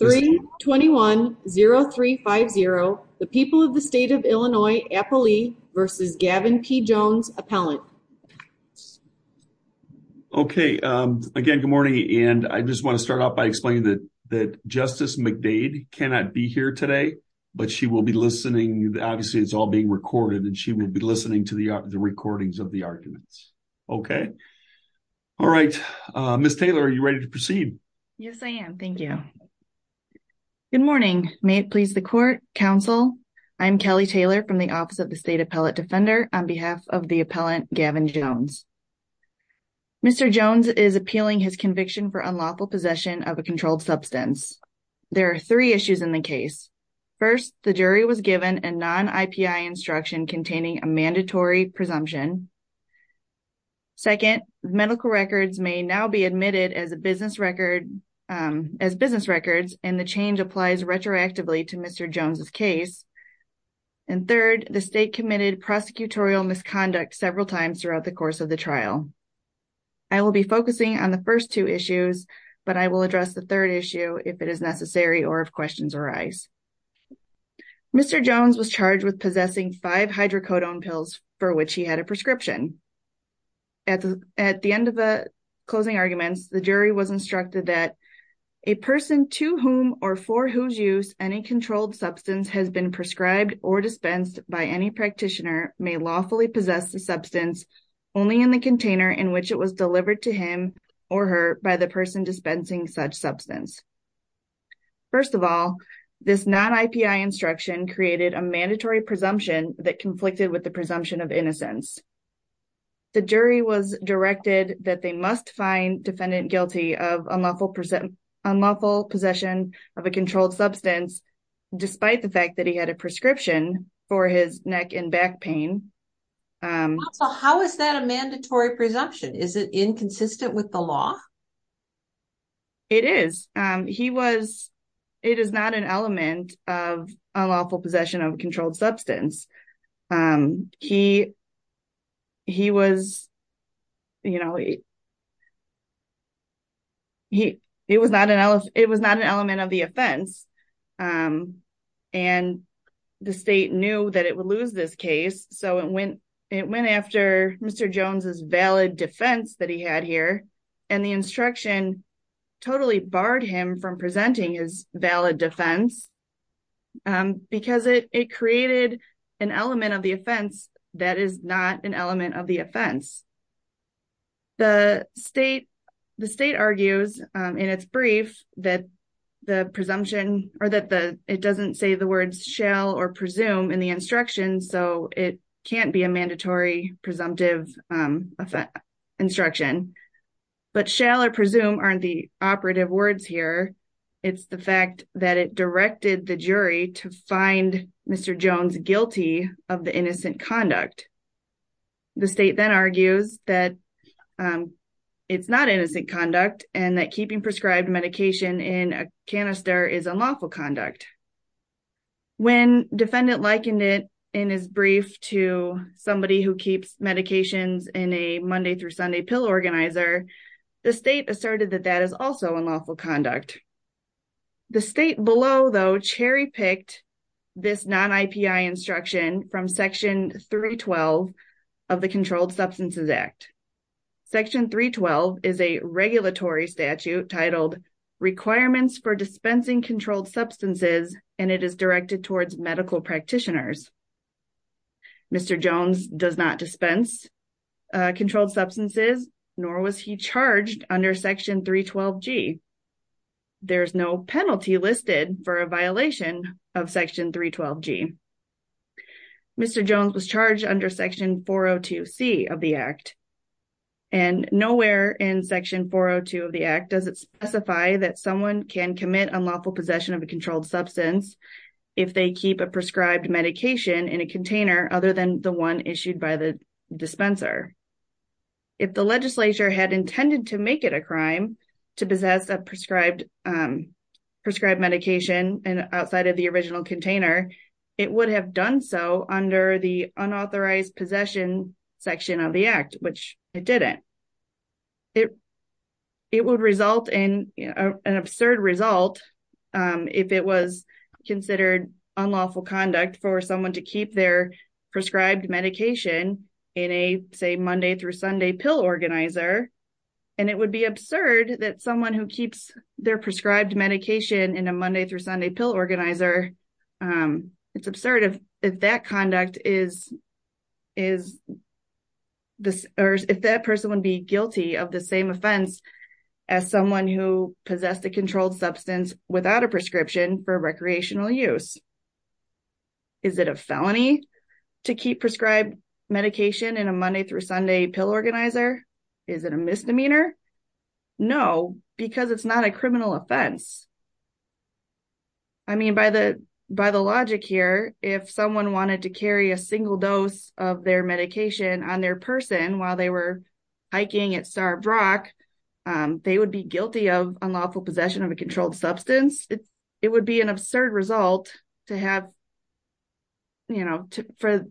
321-0350, the people of the state of Illinois, Appley v. Gavin P. Jones, appellant. Okay, again, good morning, and I just want to start off by explaining that Justice McDade cannot be here today, but she will be listening. Obviously, it's all being recorded, and she will be listening to the recordings of the arguments. Okay? All right. Ms. Taylor, are you ready to go? Good morning. May it please the court, counsel. I'm Kelly Taylor from the Office of the State Appellate Defender on behalf of the appellant, Gavin Jones. Mr. Jones is appealing his conviction for unlawful possession of a controlled substance. There are three issues in the case. First, the jury was given a non-IPI instruction containing a mandatory presumption. Second, medical records may now be admitted as a business record, as business records, and the change applies retroactively to Mr. Jones's case. And third, the state committed prosecutorial misconduct several times throughout the course of the trial. I will be focusing on the first two issues, but I will address the third issue if it is necessary or if questions arise. Mr. Jones was charged with possessing five hydrocodone pills for which he had a prescription. At the end of the closing arguments, the jury was a person to whom or for whose use any controlled substance has been prescribed or dispensed by any practitioner may lawfully possess the substance only in the container in which it was delivered to him or her by the person dispensing such substance. First of all, this non-IPI instruction created a mandatory presumption that conflicted with the presumption of innocence. The jury was unlawful possession of a controlled substance despite the fact that he had a prescription for his neck and back pain. How is that a mandatory presumption? Is it inconsistent with the law? It is. It is not an element of unlawful possession of a controlled substance. It was not an element of the offense, and the state knew that it would lose this case, so it went after Mr. Jones's valid defense that he had here, and the instruction totally barred from presenting his valid defense because it created an element of the offense that is not an element of the offense. The state argues in its brief that the presumption or that it doesn't say the words shall or presume in the instruction, so it can't be a mandatory presumptive instruction, but shall or presume aren't the operative words here. It's the fact that it directed the jury to find Mr. Jones guilty of the innocent conduct. The state then argues that it's not innocent conduct and that keeping prescribed medication in a canister is unlawful conduct. When defendant likened it in his brief to somebody who keeps medications in a Monday through Sunday pill organizer, the state asserted that that is also unlawful conduct. The state below, though, cherry picked this non-IPI instruction from Section 312 of the Controlled Substances Act. Section 312 is a regulatory statute titled Requirements for Dispensing Controlled Substances, and it is medical practitioners. Mr. Jones does not dispense controlled substances, nor was he charged under Section 312G. There is no penalty listed for a violation of Section 312G. Mr. Jones was charged under Section 402C of the Act, and nowhere in Section 402 of the Act does it keep a prescribed medication in a container other than the one issued by the dispenser. If the legislature had intended to make it a crime to possess a prescribed medication outside of the original container, it would have done so under the unauthorized possession section of the Act, which it didn't. It would result in an absurd result if it was considered unlawful conduct for someone to keep their prescribed medication in a, say, Monday through Sunday pill organizer. It would be absurd that someone who keeps their prescribed medication in a Monday through Sunday pill organizer, it's absurd if that conduct is, if that person would be guilty of the same offense as someone who possessed a controlled substance without a prescription for recreational use. Is it a felony to keep prescribed medication in a Monday through Sunday pill organizer? Is it a misdemeanor? No, because it's not a criminal offense. I mean, by the logic here, if someone wanted to carry a single dose of their medication on their person while they were hiking at Starved Rock, they would be guilty of unlawful possession of a controlled substance. It would be an absurd result to have, you know, for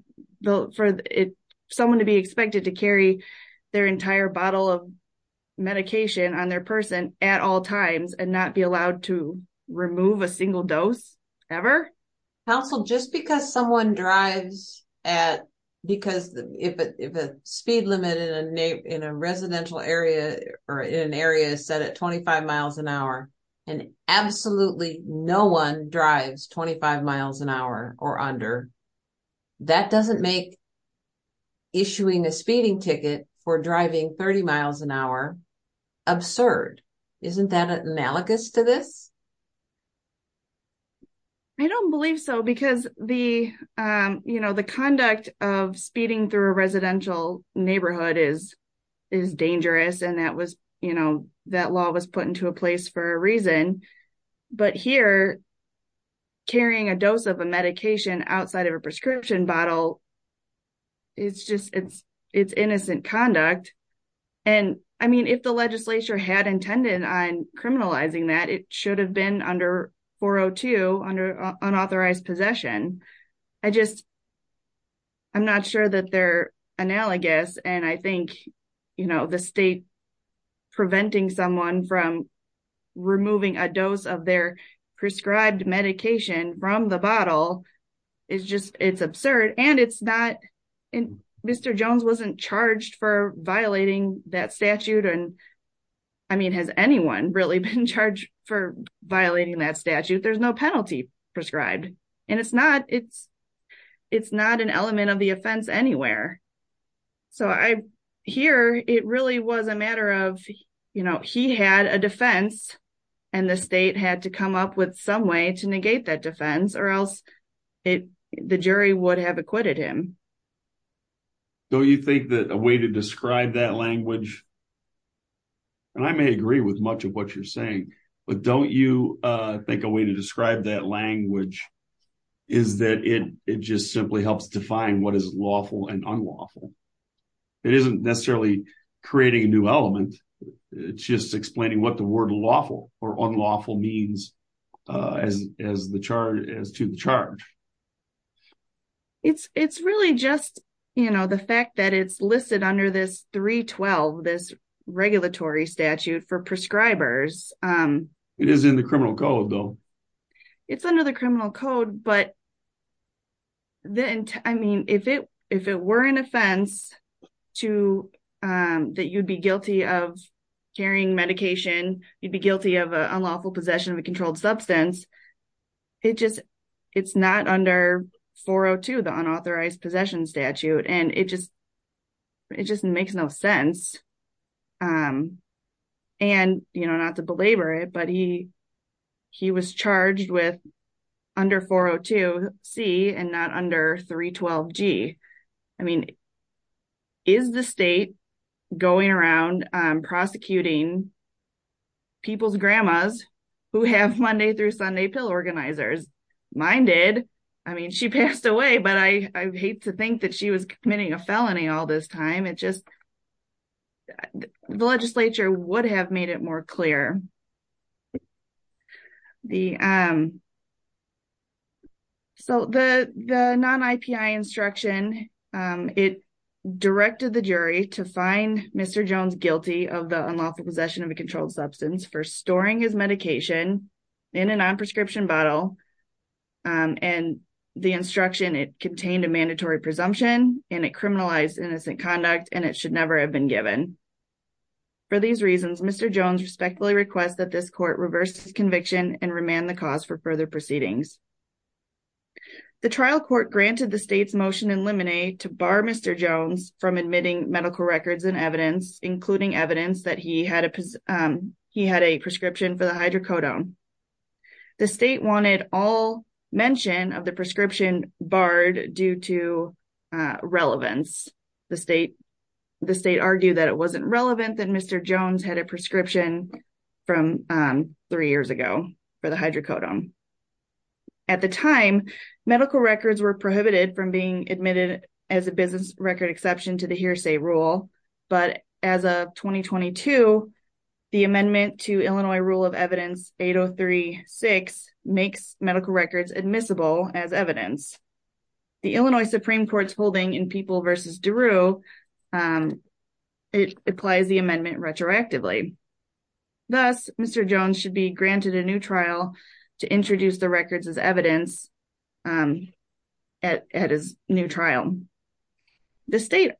someone to be expected to carry their entire bottle of medication on their person at all times and not be allowed to remove a single dose, ever. Council, just because someone drives at, because if a speed limit in a residential area or in an area is set at 25 miles an hour and absolutely no one drives 25 miles an hour or under, that doesn't make issuing a speeding ticket for driving 30 miles an hour absurd. Isn't that analogous to this? I don't believe so because the, you know, the conduct of speeding through a residential neighborhood is dangerous. And that was, you know, that law was put into a place for a reason. But here, carrying a dose of a medication outside of a prescription bottle, it's just, it's innocent conduct. And I mean, if the legislature had intended on criminalizing that, it should have been under 402, under unauthorized possession. I just, I'm not sure that they're analogous. And I think, you know, the state preventing someone from removing a dose of their prescribed medication from the bottle is just, it's absurd. And it's not, Mr. Jones wasn't charged for violating that statute. And I mean, has anyone really been There's no penalty prescribed and it's not, it's not an element of the offense anywhere. So I hear it really was a matter of, you know, he had a defense and the state had to come up with some way to negate that defense or else it, the jury would have acquitted him. Don't you think that a way to describe that language, and I may agree with much of what you're saying, but don't you think a way to describe that language is that it just simply helps define what is lawful and unlawful. It isn't necessarily creating a new element. It's just explaining what the word lawful or unlawful means as to the charge. It's really just, you know, the fact that it's listed under this 312, this regulatory statute for prescribers. It is in the criminal code though. It's under the criminal code, but then, I mean, if it, if it were an offense to, that you'd be guilty of carrying medication, you'd be guilty of an unlawful possession of a controlled substance. It just, it's not under 402, the unauthorized possession statute. And it just, it just makes no sense. And, you know, not to belabor it, but he, he was charged with under 402 C and not under 312 G. I mean, is the state going around prosecuting people's grandmas who have Monday through Sunday pill organizers? Mine did. I mean, she passed away, but I, I hate to think that she was committing a felony all this time. It just, the legislature would have made it more clear. The, so the, the non-IPI instruction, it directed the jury to find Mr. Jones guilty of the unlawful possession of a controlled substance for storing his medication in a non-prescription bottle. And the instruction, it contained a mandatory presumption and it criminalized innocent conduct and it should never have been given. For these reasons, Mr. Jones respectfully requests that this court reverse his conviction and remand the cause for further proceedings. The trial court granted the state's motion in limine to bar Mr. Jones from admitting medical records and evidence, including evidence that he had a, he had a prescription for the hydrocodone. The state wanted all mention of the prescription barred due to relevance. The state, the state argued that it wasn't relevant that Mr. Jones had a prescription from three years ago for the hydrocodone. At the time, medical records were prohibited from being admitted as a business record exception to the hearsay rule. But as of 2022, the amendment to Illinois rule of evidence 8036 makes medical records admissible as evidence. The Illinois Supreme Court's holding in People v. DeRue, it applies the amendment retroactively. Thus, Mr. Jones should be granted a new trial to introduce the records as evidence at his new trial. The state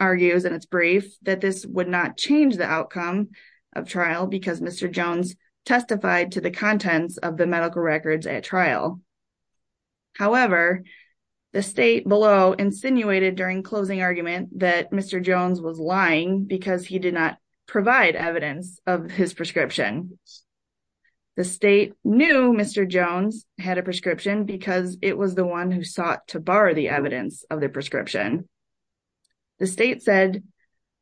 argues in its brief that this would not change the outcome of trial because Mr. Jones testified to the contents of the medical records at trial. However, the state below insinuated during closing argument that Mr. Jones was lying because he did not provide evidence of his prescription. The state knew Mr. Jones had a prescription because it was the one who sought to bar the evidence of the prescription. The state said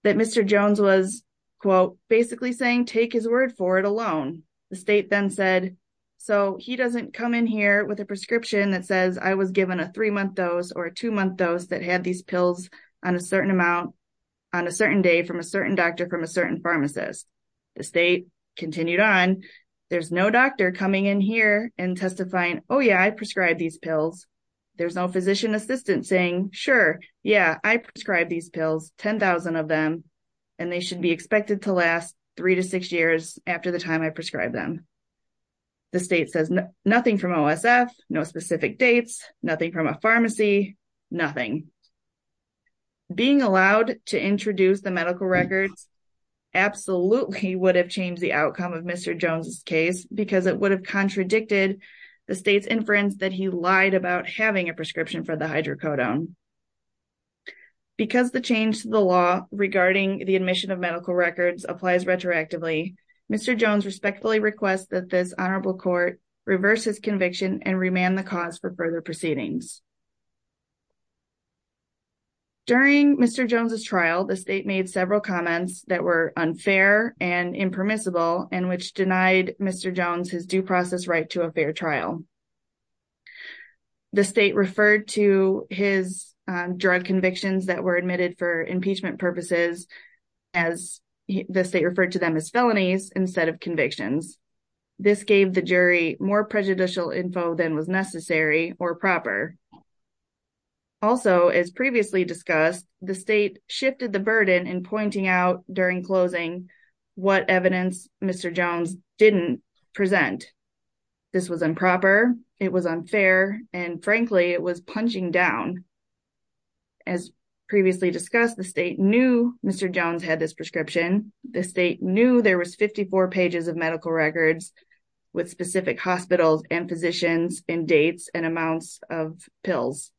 that Mr. Jones was quote basically saying take his word for it alone. The state then said so he doesn't come in here with a prescription that says I was given a three month dose or a two month dose that had these pills on a certain amount on a certain day from a certain doctor from a certain pharmacist. The state continued on there's no doctor coming in here and testifying oh yeah I prescribed these pills. There's no physician assistant saying sure yeah I prescribed these pills 10,000 of them and they should be expected to last three to six years after the time I prescribed them. The state says nothing from OSF, no specific dates, nothing from a pharmacy, nothing. Being allowed to introduce the medical records absolutely would have changed the outcome of Mr. Jones's case because it would have contradicted the state's inference that he lied about having a prescription for the hydrocodone. Because the change to the law regarding the admission of medical records applies retroactively Mr. Jones respectfully requests that this honorable court reverse his conviction and remand the cause for further proceedings. During Mr. Jones's trial the state made several comments that were unfair and impermissible and which denied Mr. Jones his due process right to a fair trial. The state referred to his drug convictions that were admitted for impeachment purposes as the state referred to them as felonies instead of convictions. This gave the jury more prejudicial info than was necessary or proper. Also as previously discussed the state shifted the burden in pointing out during closing what evidence Mr. Jones didn't present. This was improper, it was unfair and frankly it was punching down. As previously discussed the state knew Mr. Jones had this prescription, the state knew there was 54 pages of medical records with specific hospitals and physicians and dates and amounts of pills.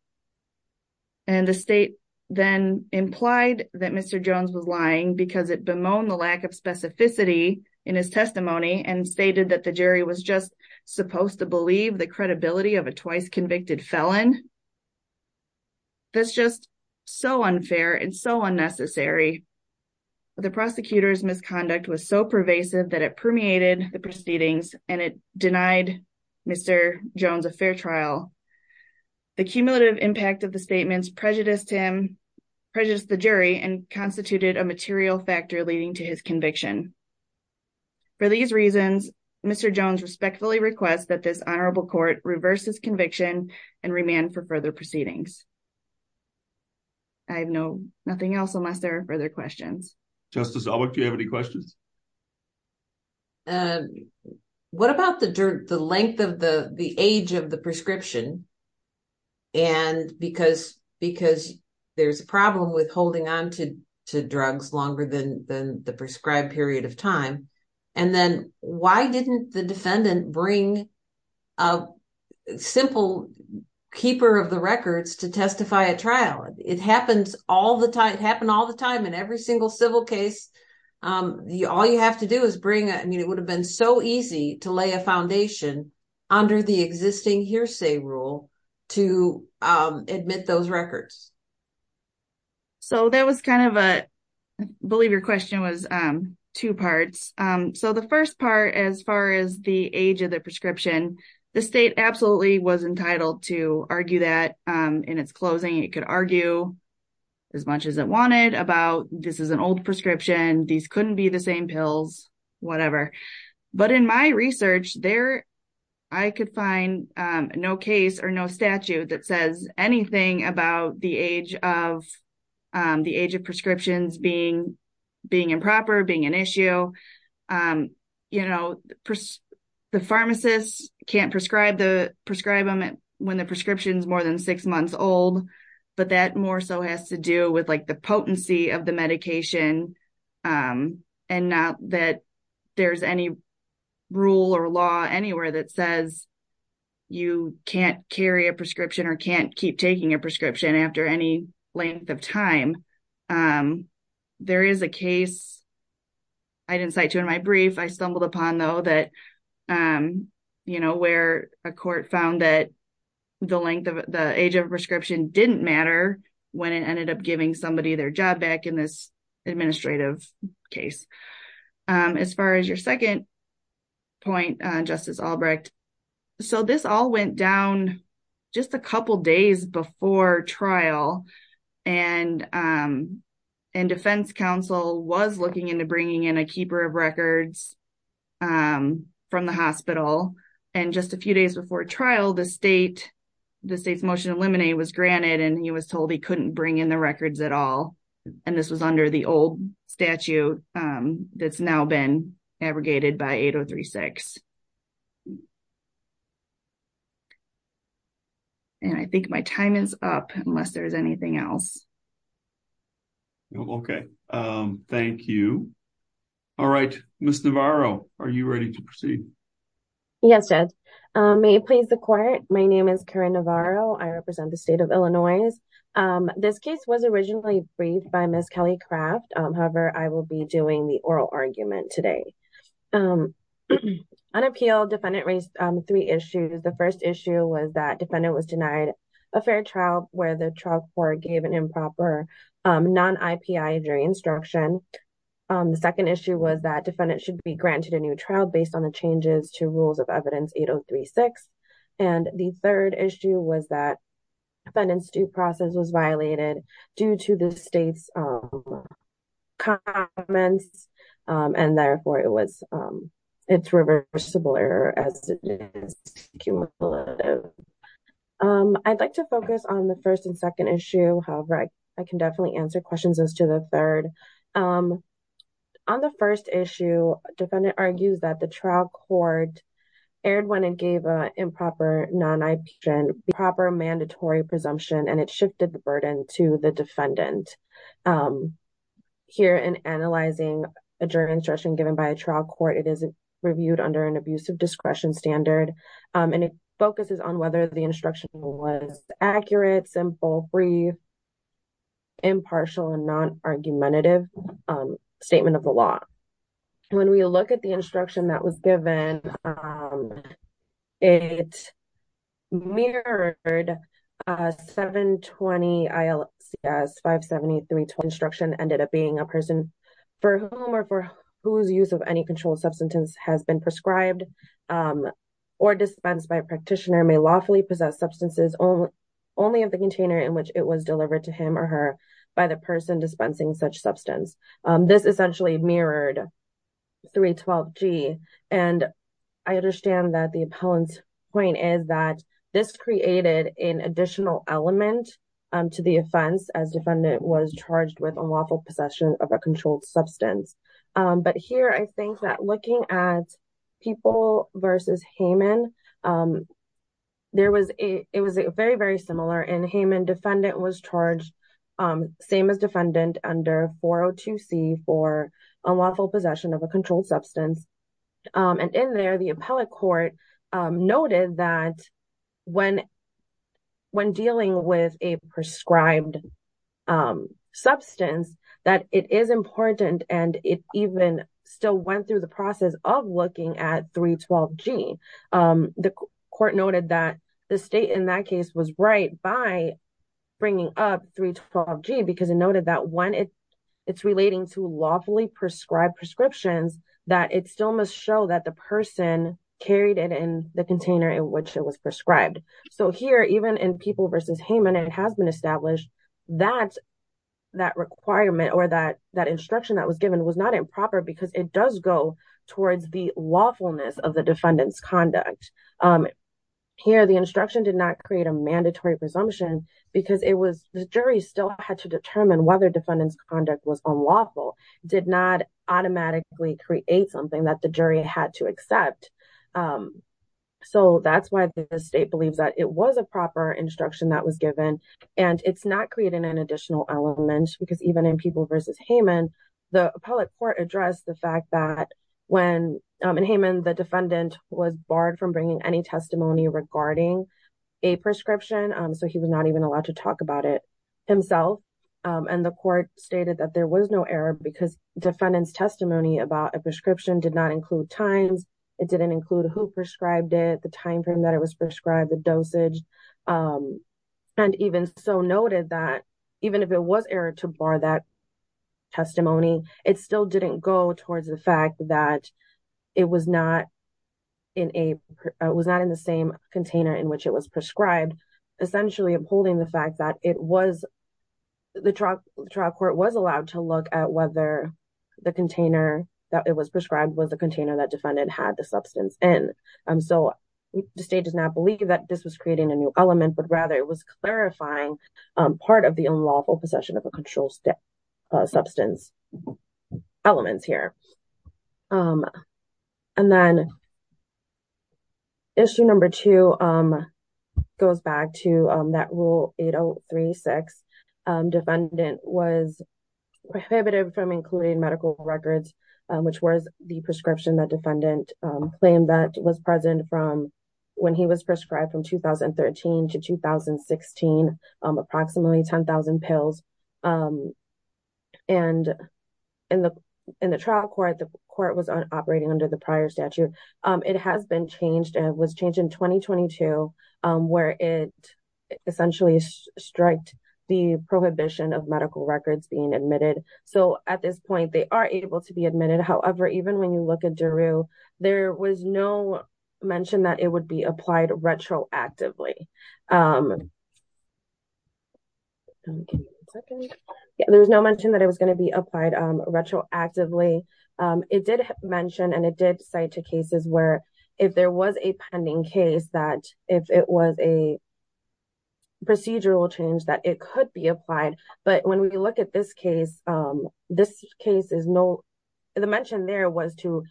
And the state then implied that Mr. Jones was lying because it bemoaned the lack of specificity in his testimony and stated that the jury was just supposed to believe the credibility of a twice convicted felon. That's just so unfair and so unnecessary. The prosecutor's misconduct was so pervasive that it permeated the proceedings and it denied Mr. Jones a fair trial. The cumulative impact of material factor leading to his conviction. For these reasons Mr. Jones respectfully requests that this honorable court reverse his conviction and remand for further proceedings. I have no nothing else unless there are further questions. Justice Albert, do you have any questions? What about the length of the age of the prescription and because there's a problem with holding on to drugs longer than the prescribed period of time and then why didn't the defendant bring a simple keeper of the records to testify at trial? It happens all the time, it happened all the time in every single civil case. All you have to do is bring, I mean it would have been so easy to lay a foundation under the existing hearsay rule to admit those records. So that was kind of a, I believe your question was two parts. So the first part as far as the age of the prescription, the state absolutely was entitled to argue that in its closing. It could argue as much as it wanted about this is an old prescription, these couldn't be the same pills, whatever. But in my research there I could find no case or no statute that says anything about the age of prescriptions being improper, being an issue. The pharmacist can't prescribe them when the prescription is more than six months old, but that more so has to do with like the potency of the medication and not that there's any rule or law anywhere that says you can't carry a any length of time. There is a case I didn't cite to in my brief I stumbled upon though that you know where a court found that the length of the age of prescription didn't matter when it ended up giving somebody their job back in this administrative case. As far as your second point Justice Albrecht, so this all went down just a couple days before trial and defense counsel was looking into bringing in a keeper of records from the hospital. And just a few days before trial the state's motion to eliminate was granted and he was told he couldn't bring in the records at all. And this was under the old statute that's been abrogated by 8036. And I think my time is up unless there's anything else. Okay thank you. All right Ms. Navarro are you ready to proceed? Yes Judge. May it please the court my name is Karen Navarro I represent the state of Illinois. This case was originally briefed by Ms. Kelly Craft however I will be doing the oral argument today. Unappealed defendant raised three issues. The first issue was that defendant was denied a fair trial where the trial court gave an improper non-IPI during instruction. The second issue was that defendant should be granted a new trial based on the changes to rules of evidence 8036. And the third issue was that defendant's due process was violated due to the state's comments and therefore it was it's reversible error as cumulative. I'd like to focus on the first and second issue however I can definitely answer questions as to the third. On the first issue defendant argues that the trial court erred when it gave a improper non-IP and proper mandatory presumption and it shifted the burden to the defendant. Here in analyzing a jury instruction given by a trial court it is reviewed under an abusive discretion standard and it focuses on whether the instruction was accurate, simple, brief, impartial, and non-argumentative statement of the law. When we look at the instruction that was given it mirrored a 720 ILCS 573 instruction ended up being a person for whom or for whose use of any controlled substance has been prescribed or dispensed by a practitioner may lawfully possess substances only of the container in which it was delivered to him or her by the person dispensing such substance. This essentially mirrored 312 G and I understand that the appellant's point is that this created an additional element to the offense as defendant was charged with unlawful possession of a controlled substance. But here I think that looking at people versus Hayman there was a it was 402 C for unlawful possession of a controlled substance and in there the appellate court noted that when when dealing with a prescribed substance that it is important and it even still went through the process of looking at 312 G. The court noted that the state in that case was right by bringing up 312 G because it noted that when it it's relating to lawfully prescribed prescriptions that it still must show that the person carried it in the container in which it was prescribed. So here even in people versus Hayman it has been established that that requirement or that that instruction that was given was not improper because it does go towards the lawfulness of the defendant's conduct. Here the instruction did not create a mandatory presumption because it was the jury still had to determine whether defendant's conduct was unlawful did not automatically create something that the jury had to accept. So that's why the state believes that it was a proper instruction that was given and it's not creating an additional element because even in people versus Hayman the appellate court addressed the fact that when in Hayman the defendant was barred from bringing any testimony regarding a prescription so he was not even allowed to talk about it himself and the court stated that there was no error because defendant's testimony about a prescription did not include times it didn't include who prescribed it the time frame that it was prescribed the dosage and even so noted that even if it was error to bar that testimony it still didn't go towards the fact that it was not in a was not in the same container in which it was prescribed essentially upholding the fact that it was the trial court was allowed to look at whether the container that it was prescribed was the container that defendant had the substance in. So the state does not believe that this was creating a new element but rather it was clarifying part of the unlawful possession of a controlled substance elements here. And then issue number two goes back to that rule 8036 defendant was prohibited from including medical records which was the prescription that defendant claim that was present from when he was prescribed from 2013 to 2016 approximately 10,000 pills and in the in the trial court the court was operating under the prior statute it has been changed and was changed in 2022 where it essentially striked the prohibition of medical records being admitted so at this point they are able to be admitted however even when you look at was no mention that it would be applied retroactively there was no mention that it was going to be applied retroactively it did mention and it did cite two cases where if there was a pending case that if it was a procedural change that it could be applied but when we look this case this case is no the mention there was to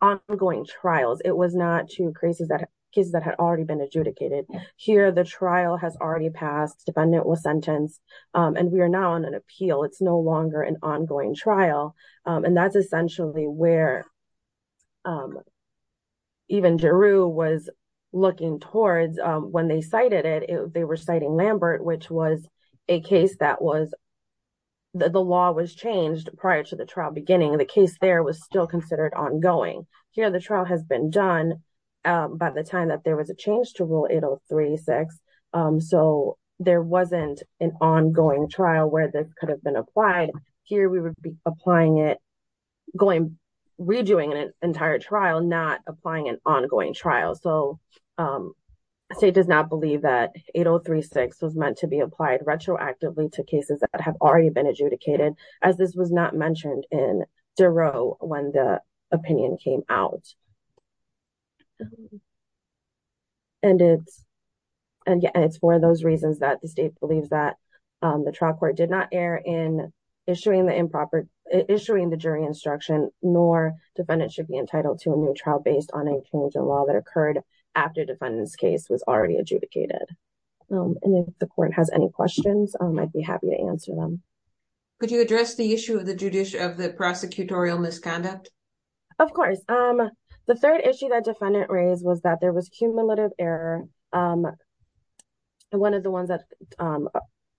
ongoing trials it was not two cases that cases that had already been adjudicated here the trial has already passed defendant was sentenced and we are now on an appeal it's no longer an ongoing trial and that's essentially where even jeru was looking towards when they cited it they were citing lambert which was a case that was the law was changed prior to the trial beginning the case there was still considered ongoing here the trial has been done by the time that there was a change to rule 803 six so there wasn't an ongoing trial where this could have been applied here we would be applying it going redoing an entire trial not applying an ongoing trial so state does not believe that 8036 was have already been adjudicated as this was not mentioned in zero when the opinion came out and it's and yeah it's for those reasons that the state believes that the trial court did not err in issuing the improper issuing the jury instruction nor defendant should be entitled to a new trial based on a change in law that occurred after defendant's case was already adjudicated and if the court has any questions i'd be happy to answer them could you address the issue of the judicial of the prosecutorial misconduct of course um the third issue that defendant raised was that there was cumulative error um one of the ones that um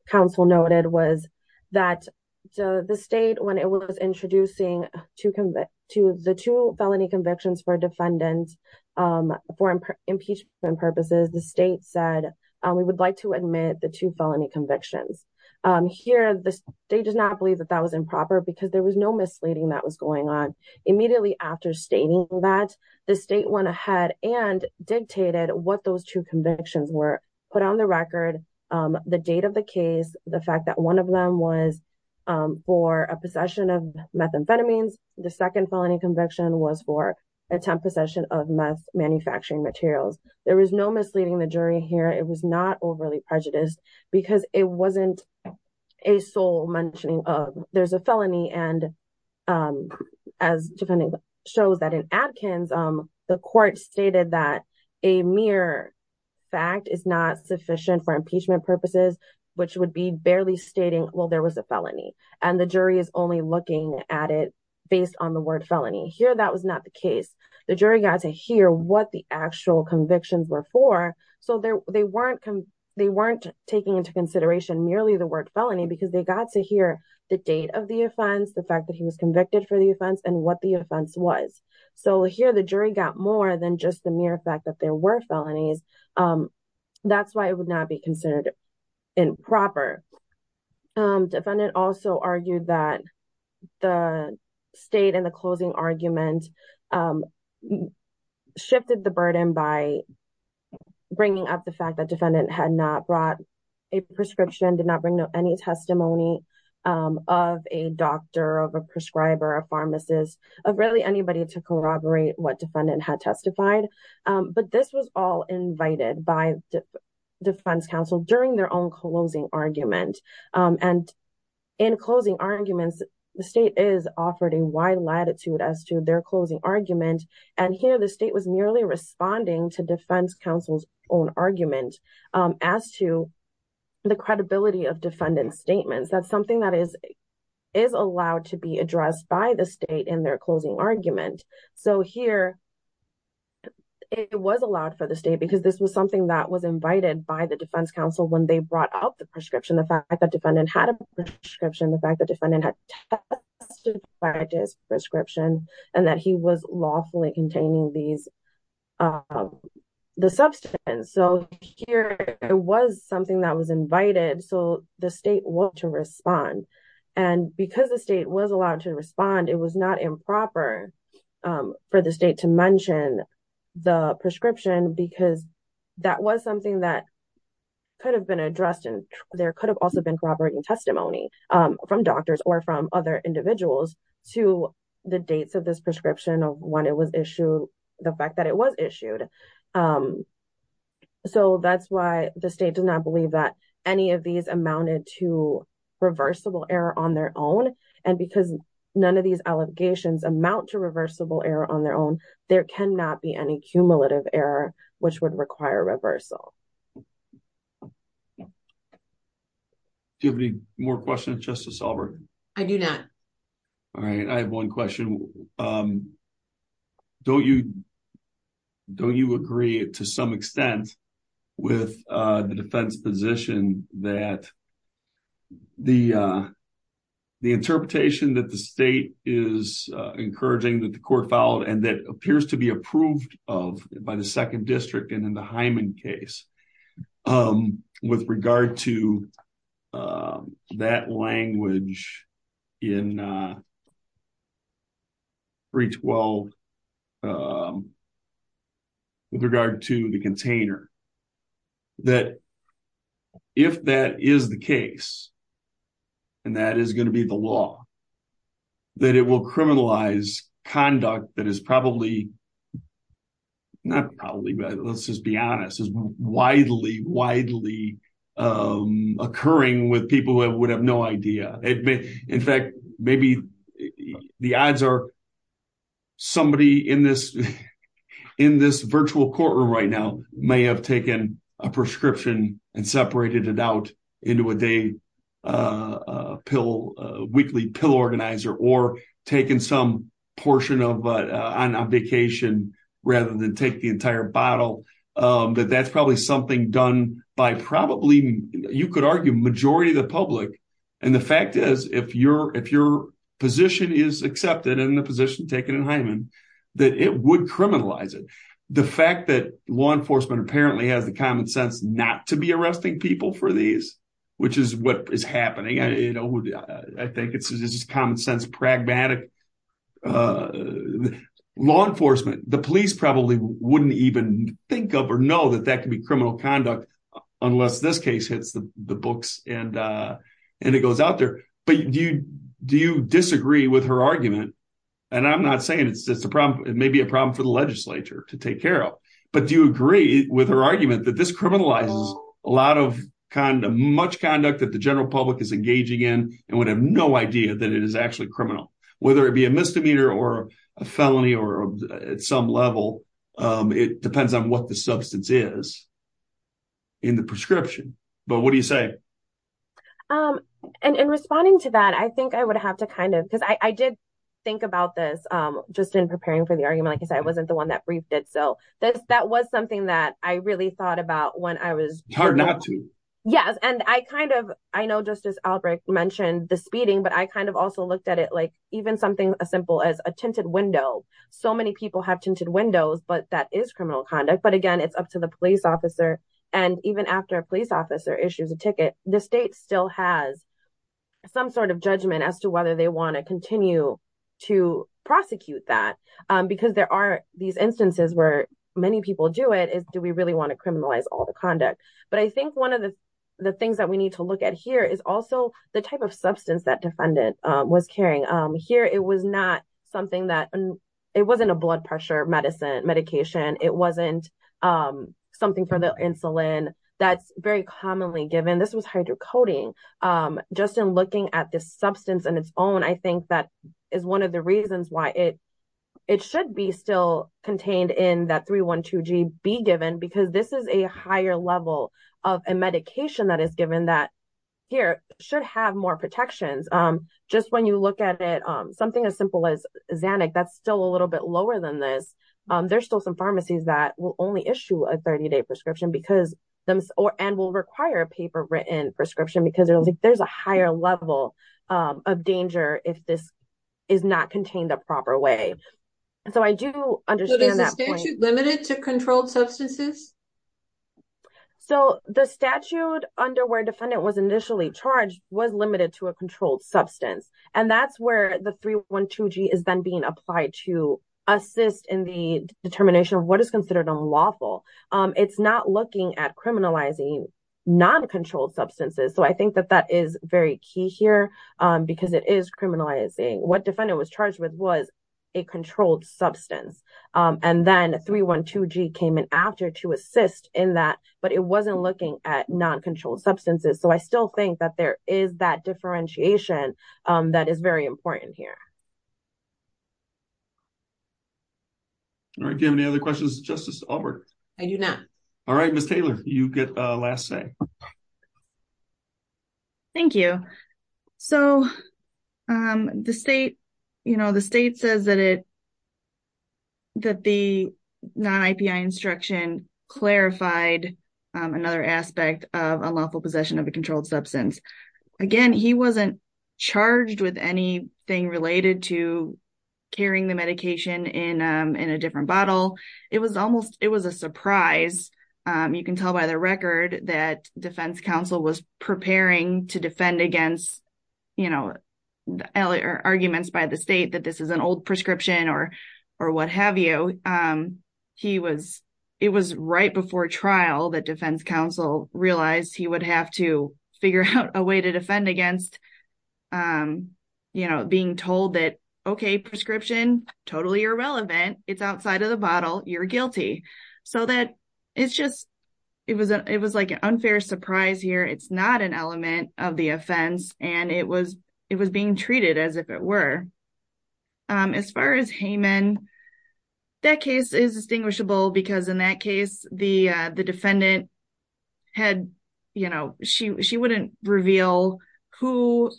council noted was that so the state when it was introducing to convict to the two felony convictions for defendants um for impeachment purposes the state said um we would like to admit the two felony convictions um here the state does not believe that that was improper because there was no misleading that was going on immediately after stating that the state went ahead and dictated what those two convictions were put on the record um the date of the case the fact that one of them was um for a possession of methamphetamines the second felony conviction was for attempt possession of meth manufacturing materials there was no misleading the jury here it was not overly prejudiced because it wasn't a sole mentioning of there's a felony and um as defending shows that in adkins um the court stated that a mere fact is not sufficient for impeachment purposes which would be barely stating well there was a felony and the jury is only looking at it based on the word felony here that was not the case the jury got to hear what the actual convictions were for so there they weren't they weren't taking into consideration merely the word felony because they got to hear the date of the offense the fact that he was convicted for the offense and what the offense was so here the jury got more than just the mere fact that there were felonies um that's why it would not be um shifted the burden by bringing up the fact that defendant had not brought a prescription did not bring any testimony of a doctor of a prescriber a pharmacist of really anybody to corroborate what defendant had testified but this was all invited by defense counsel during their own closing argument and in closing arguments the state is offered a wide latitude as to their closing argument and here the state was merely responding to defense counsel's own argument as to the credibility of defendant's statements that's something that is is allowed to be addressed by the state in their closing argument so here it was allowed for the state because this was something that was invited by the defense counsel when they brought up the prescription the fact that defendant had a prescription the fact that defendant had testified to his prescription and that he was lawfully containing these um the substance so here it was something that was invited so the state was to respond and because the state was allowed to respond it was not improper um for the state to mention the prescription because that was something that could have been addressed and there could have been corroborating testimony um from doctors or from other individuals to the dates of this prescription of when it was issued the fact that it was issued um so that's why the state does not believe that any of these amounted to reversible error on their own and because none of these allegations amount to reversible error on their own there cannot be any cumulative error which would require reversal do you have any more questions justice albert i do not all right i have one question um don't you don't you agree to some extent with uh the defense position that the uh the interpretation that the state is uh encouraging that the court filed and that in the hyman case um with regard to um that language in uh 312 with regard to the container that if that is the case and that is going to be the law that it will criminalize conduct that is probably not probably but let's just be honest is widely widely um occurring with people who would have no idea it may in fact maybe the odds are somebody in this in this virtual courtroom right now may have taken a prescription and separated it out into a day uh a pill a weekly pill organizer or taken some portion of uh on a vacation rather than take the entire bottle um but that's probably something done by probably you could argue majority of the public and the fact is if you're if your position is accepted in the position taken in hyman that it would criminalize it the fact that law enforcement apparently has the common sense not to be arresting people for these which is what is happening i you know i think it's just common sense pragmatic law enforcement the police probably wouldn't even think of or know that that could be criminal conduct unless this case hits the books and uh and it goes out there but do you do you disagree with her argument and i'm not saying it's just a problem it may be a problem for the legislature to take care of but do you agree with her argument that this criminalizes a lot of kind of much conduct that the general public is engaging in and would have no idea that it is actually criminal whether it be a misdemeanor or a felony or at some level um it depends on what the substance is in the prescription but what do you say um and in responding to that i think i would have to kind of think about this um just in preparing for the argument like i said i wasn't the one that briefed it so this that was something that i really thought about when i was hard not to yes and i kind of i know justice albrecht mentioned the speeding but i kind of also looked at it like even something as simple as a tinted window so many people have tinted windows but that is criminal conduct but again it's up to the police officer and even after a police officer issues a ticket the state still has some sort of judgment as to whether they want to continue to prosecute that because there are these instances where many people do it is do we really want to criminalize all the conduct but i think one of the things that we need to look at here is also the type of substance that defendant was carrying um here it was not something that it wasn't a blood pressure medicine medication it wasn't um something for the insulin that's very commonly given this was um just in looking at this substance and its own i think that is one of the reasons why it it should be still contained in that 312g be given because this is a higher level of a medication that is given that here should have more protections um just when you look at it um something as simple as xanic that's still a little bit lower than this um there's still some pharmacies that will only issue a 30-day prescription because them or and will require a paper written prescription because there's a higher level of danger if this is not contained the proper way so i do understand that limited to controlled substances so the statute under where defendant was initially charged was limited to a controlled substance and that's where the 312g is then being applied to assist in the determination of what is considered unlawful um it's not looking at criminalizing non-controlled substances so i think that that is very key here um because it is criminalizing what defendant was charged with was a controlled substance um and then 312g came in after to assist in that but it wasn't looking at non-controlled substances so i still think that there is that differentiation um that is very important here all right do you have any other questions justice albert i do not all right miss taylor you get a last say thank you so um the state you know the state says that it that the non-ipi instruction clarified um another aspect of unlawful possession of a controlled substance again he wasn't charged with anything related to carrying the medication in um in a different bottle it was almost it was a surprise um you can tell by the record that defense council was preparing to defend against you know the earlier arguments by the state that this is an old prescription or or what have you um he was it was right before trial that defense council realized he would have to figure out a way to defend against um you know being told that okay prescription totally irrelevant it's outside of the bottle you're guilty so that it's just it was it was like an unfair surprise here it's not an element of the offense and it was it was being treated as if it were um as far as hayman that case is distinguishable because in that case the uh the defendant had you know she she wouldn't reveal who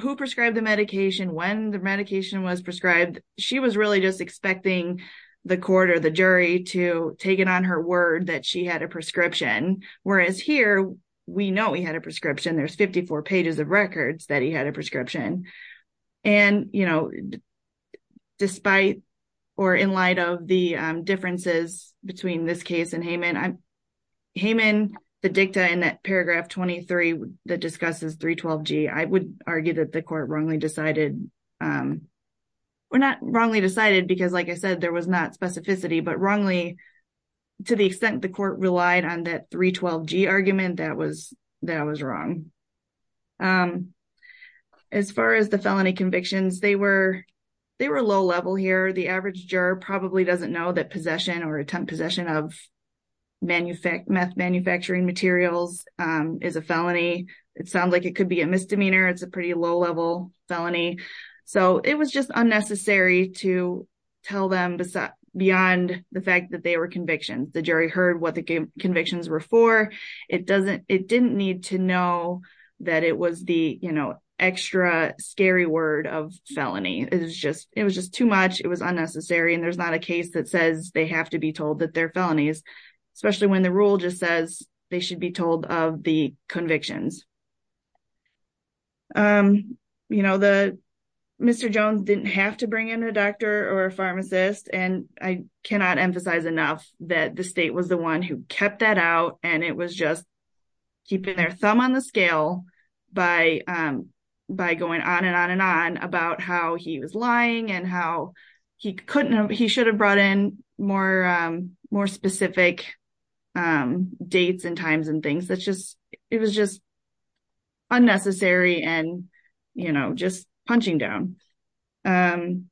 who prescribed the medication when the medication was prescribed she was really just expecting the court or the jury to take it on her word that she had a prescription whereas here we know he had a prescription there's 54 pages of records that he had a prescription and you know despite or in light of the differences between this case and hayman i'm hayman the dicta in that paragraph 23 that discusses 312g i would argue that the court wrongly decided um or not wrongly decided because like i said there was not specificity but wrongly to the extent the court relied on that 312g argument that was that was wrong um as far as the felony convictions they were they were low level here the average juror probably doesn't know that possession or attempt possession of manufactured meth manufacturing materials um is a felony it sounds like it could be a misdemeanor it's a pretty low level felony so it was just unnecessary to tell them beyond the fact that they were convictions the jury heard what the convictions were for it doesn't it didn't need to know that it was the you know extra scary word of felony it was just it was just too much it was unnecessary and there's not a case that says they have to be told that they're felonies especially when the rule just says they should be told of the convictions um you know the mr jones didn't have to bring in a doctor or a pharmacist and i cannot emphasize enough that the state was the one who kept that out and it was just keeping their thumb on the scale by um by going on and on and on about how he was lying and how he couldn't he should have more um more specific um dates and times and things that's just it was just unnecessary and you know just punching down um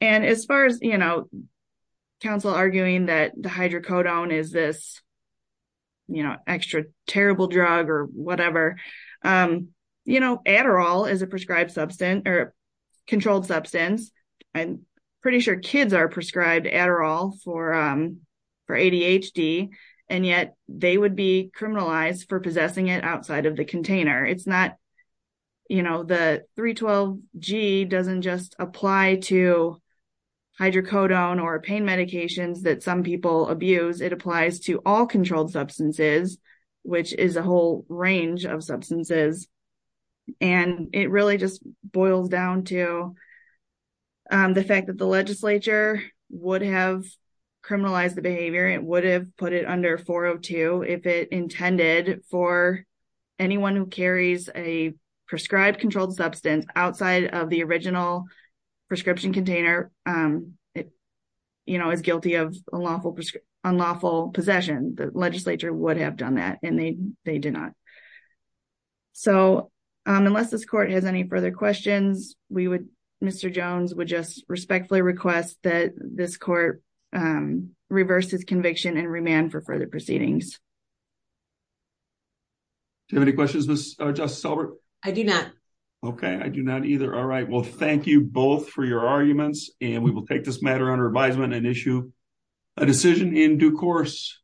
and as far as you know counsel arguing that the hydrocodone is this you know extra terrible drug or whatever um you know adderall is a for um for adhd and yet they would be criminalized for possessing it outside of the container it's not you know the 312 g doesn't just apply to hydrocodone or pain medications that some people abuse it applies to all controlled substances which is a whole range of substances and it really just boils down to um the fact that the legislature would have criminalized the behavior it would have put it under 402 if it intended for anyone who carries a prescribed controlled substance outside of the original prescription container um it you know is guilty of unlawful unlawful possession the legislature would have done that and they they did not so um unless this court has any further questions we would mr jones would just respectfully request that this court um reverse his conviction and remand for further proceedings do you have any questions miss justice i do not okay i do not either all right well thank you both for your arguments and we will take this matter under advisement and issue a decision in due course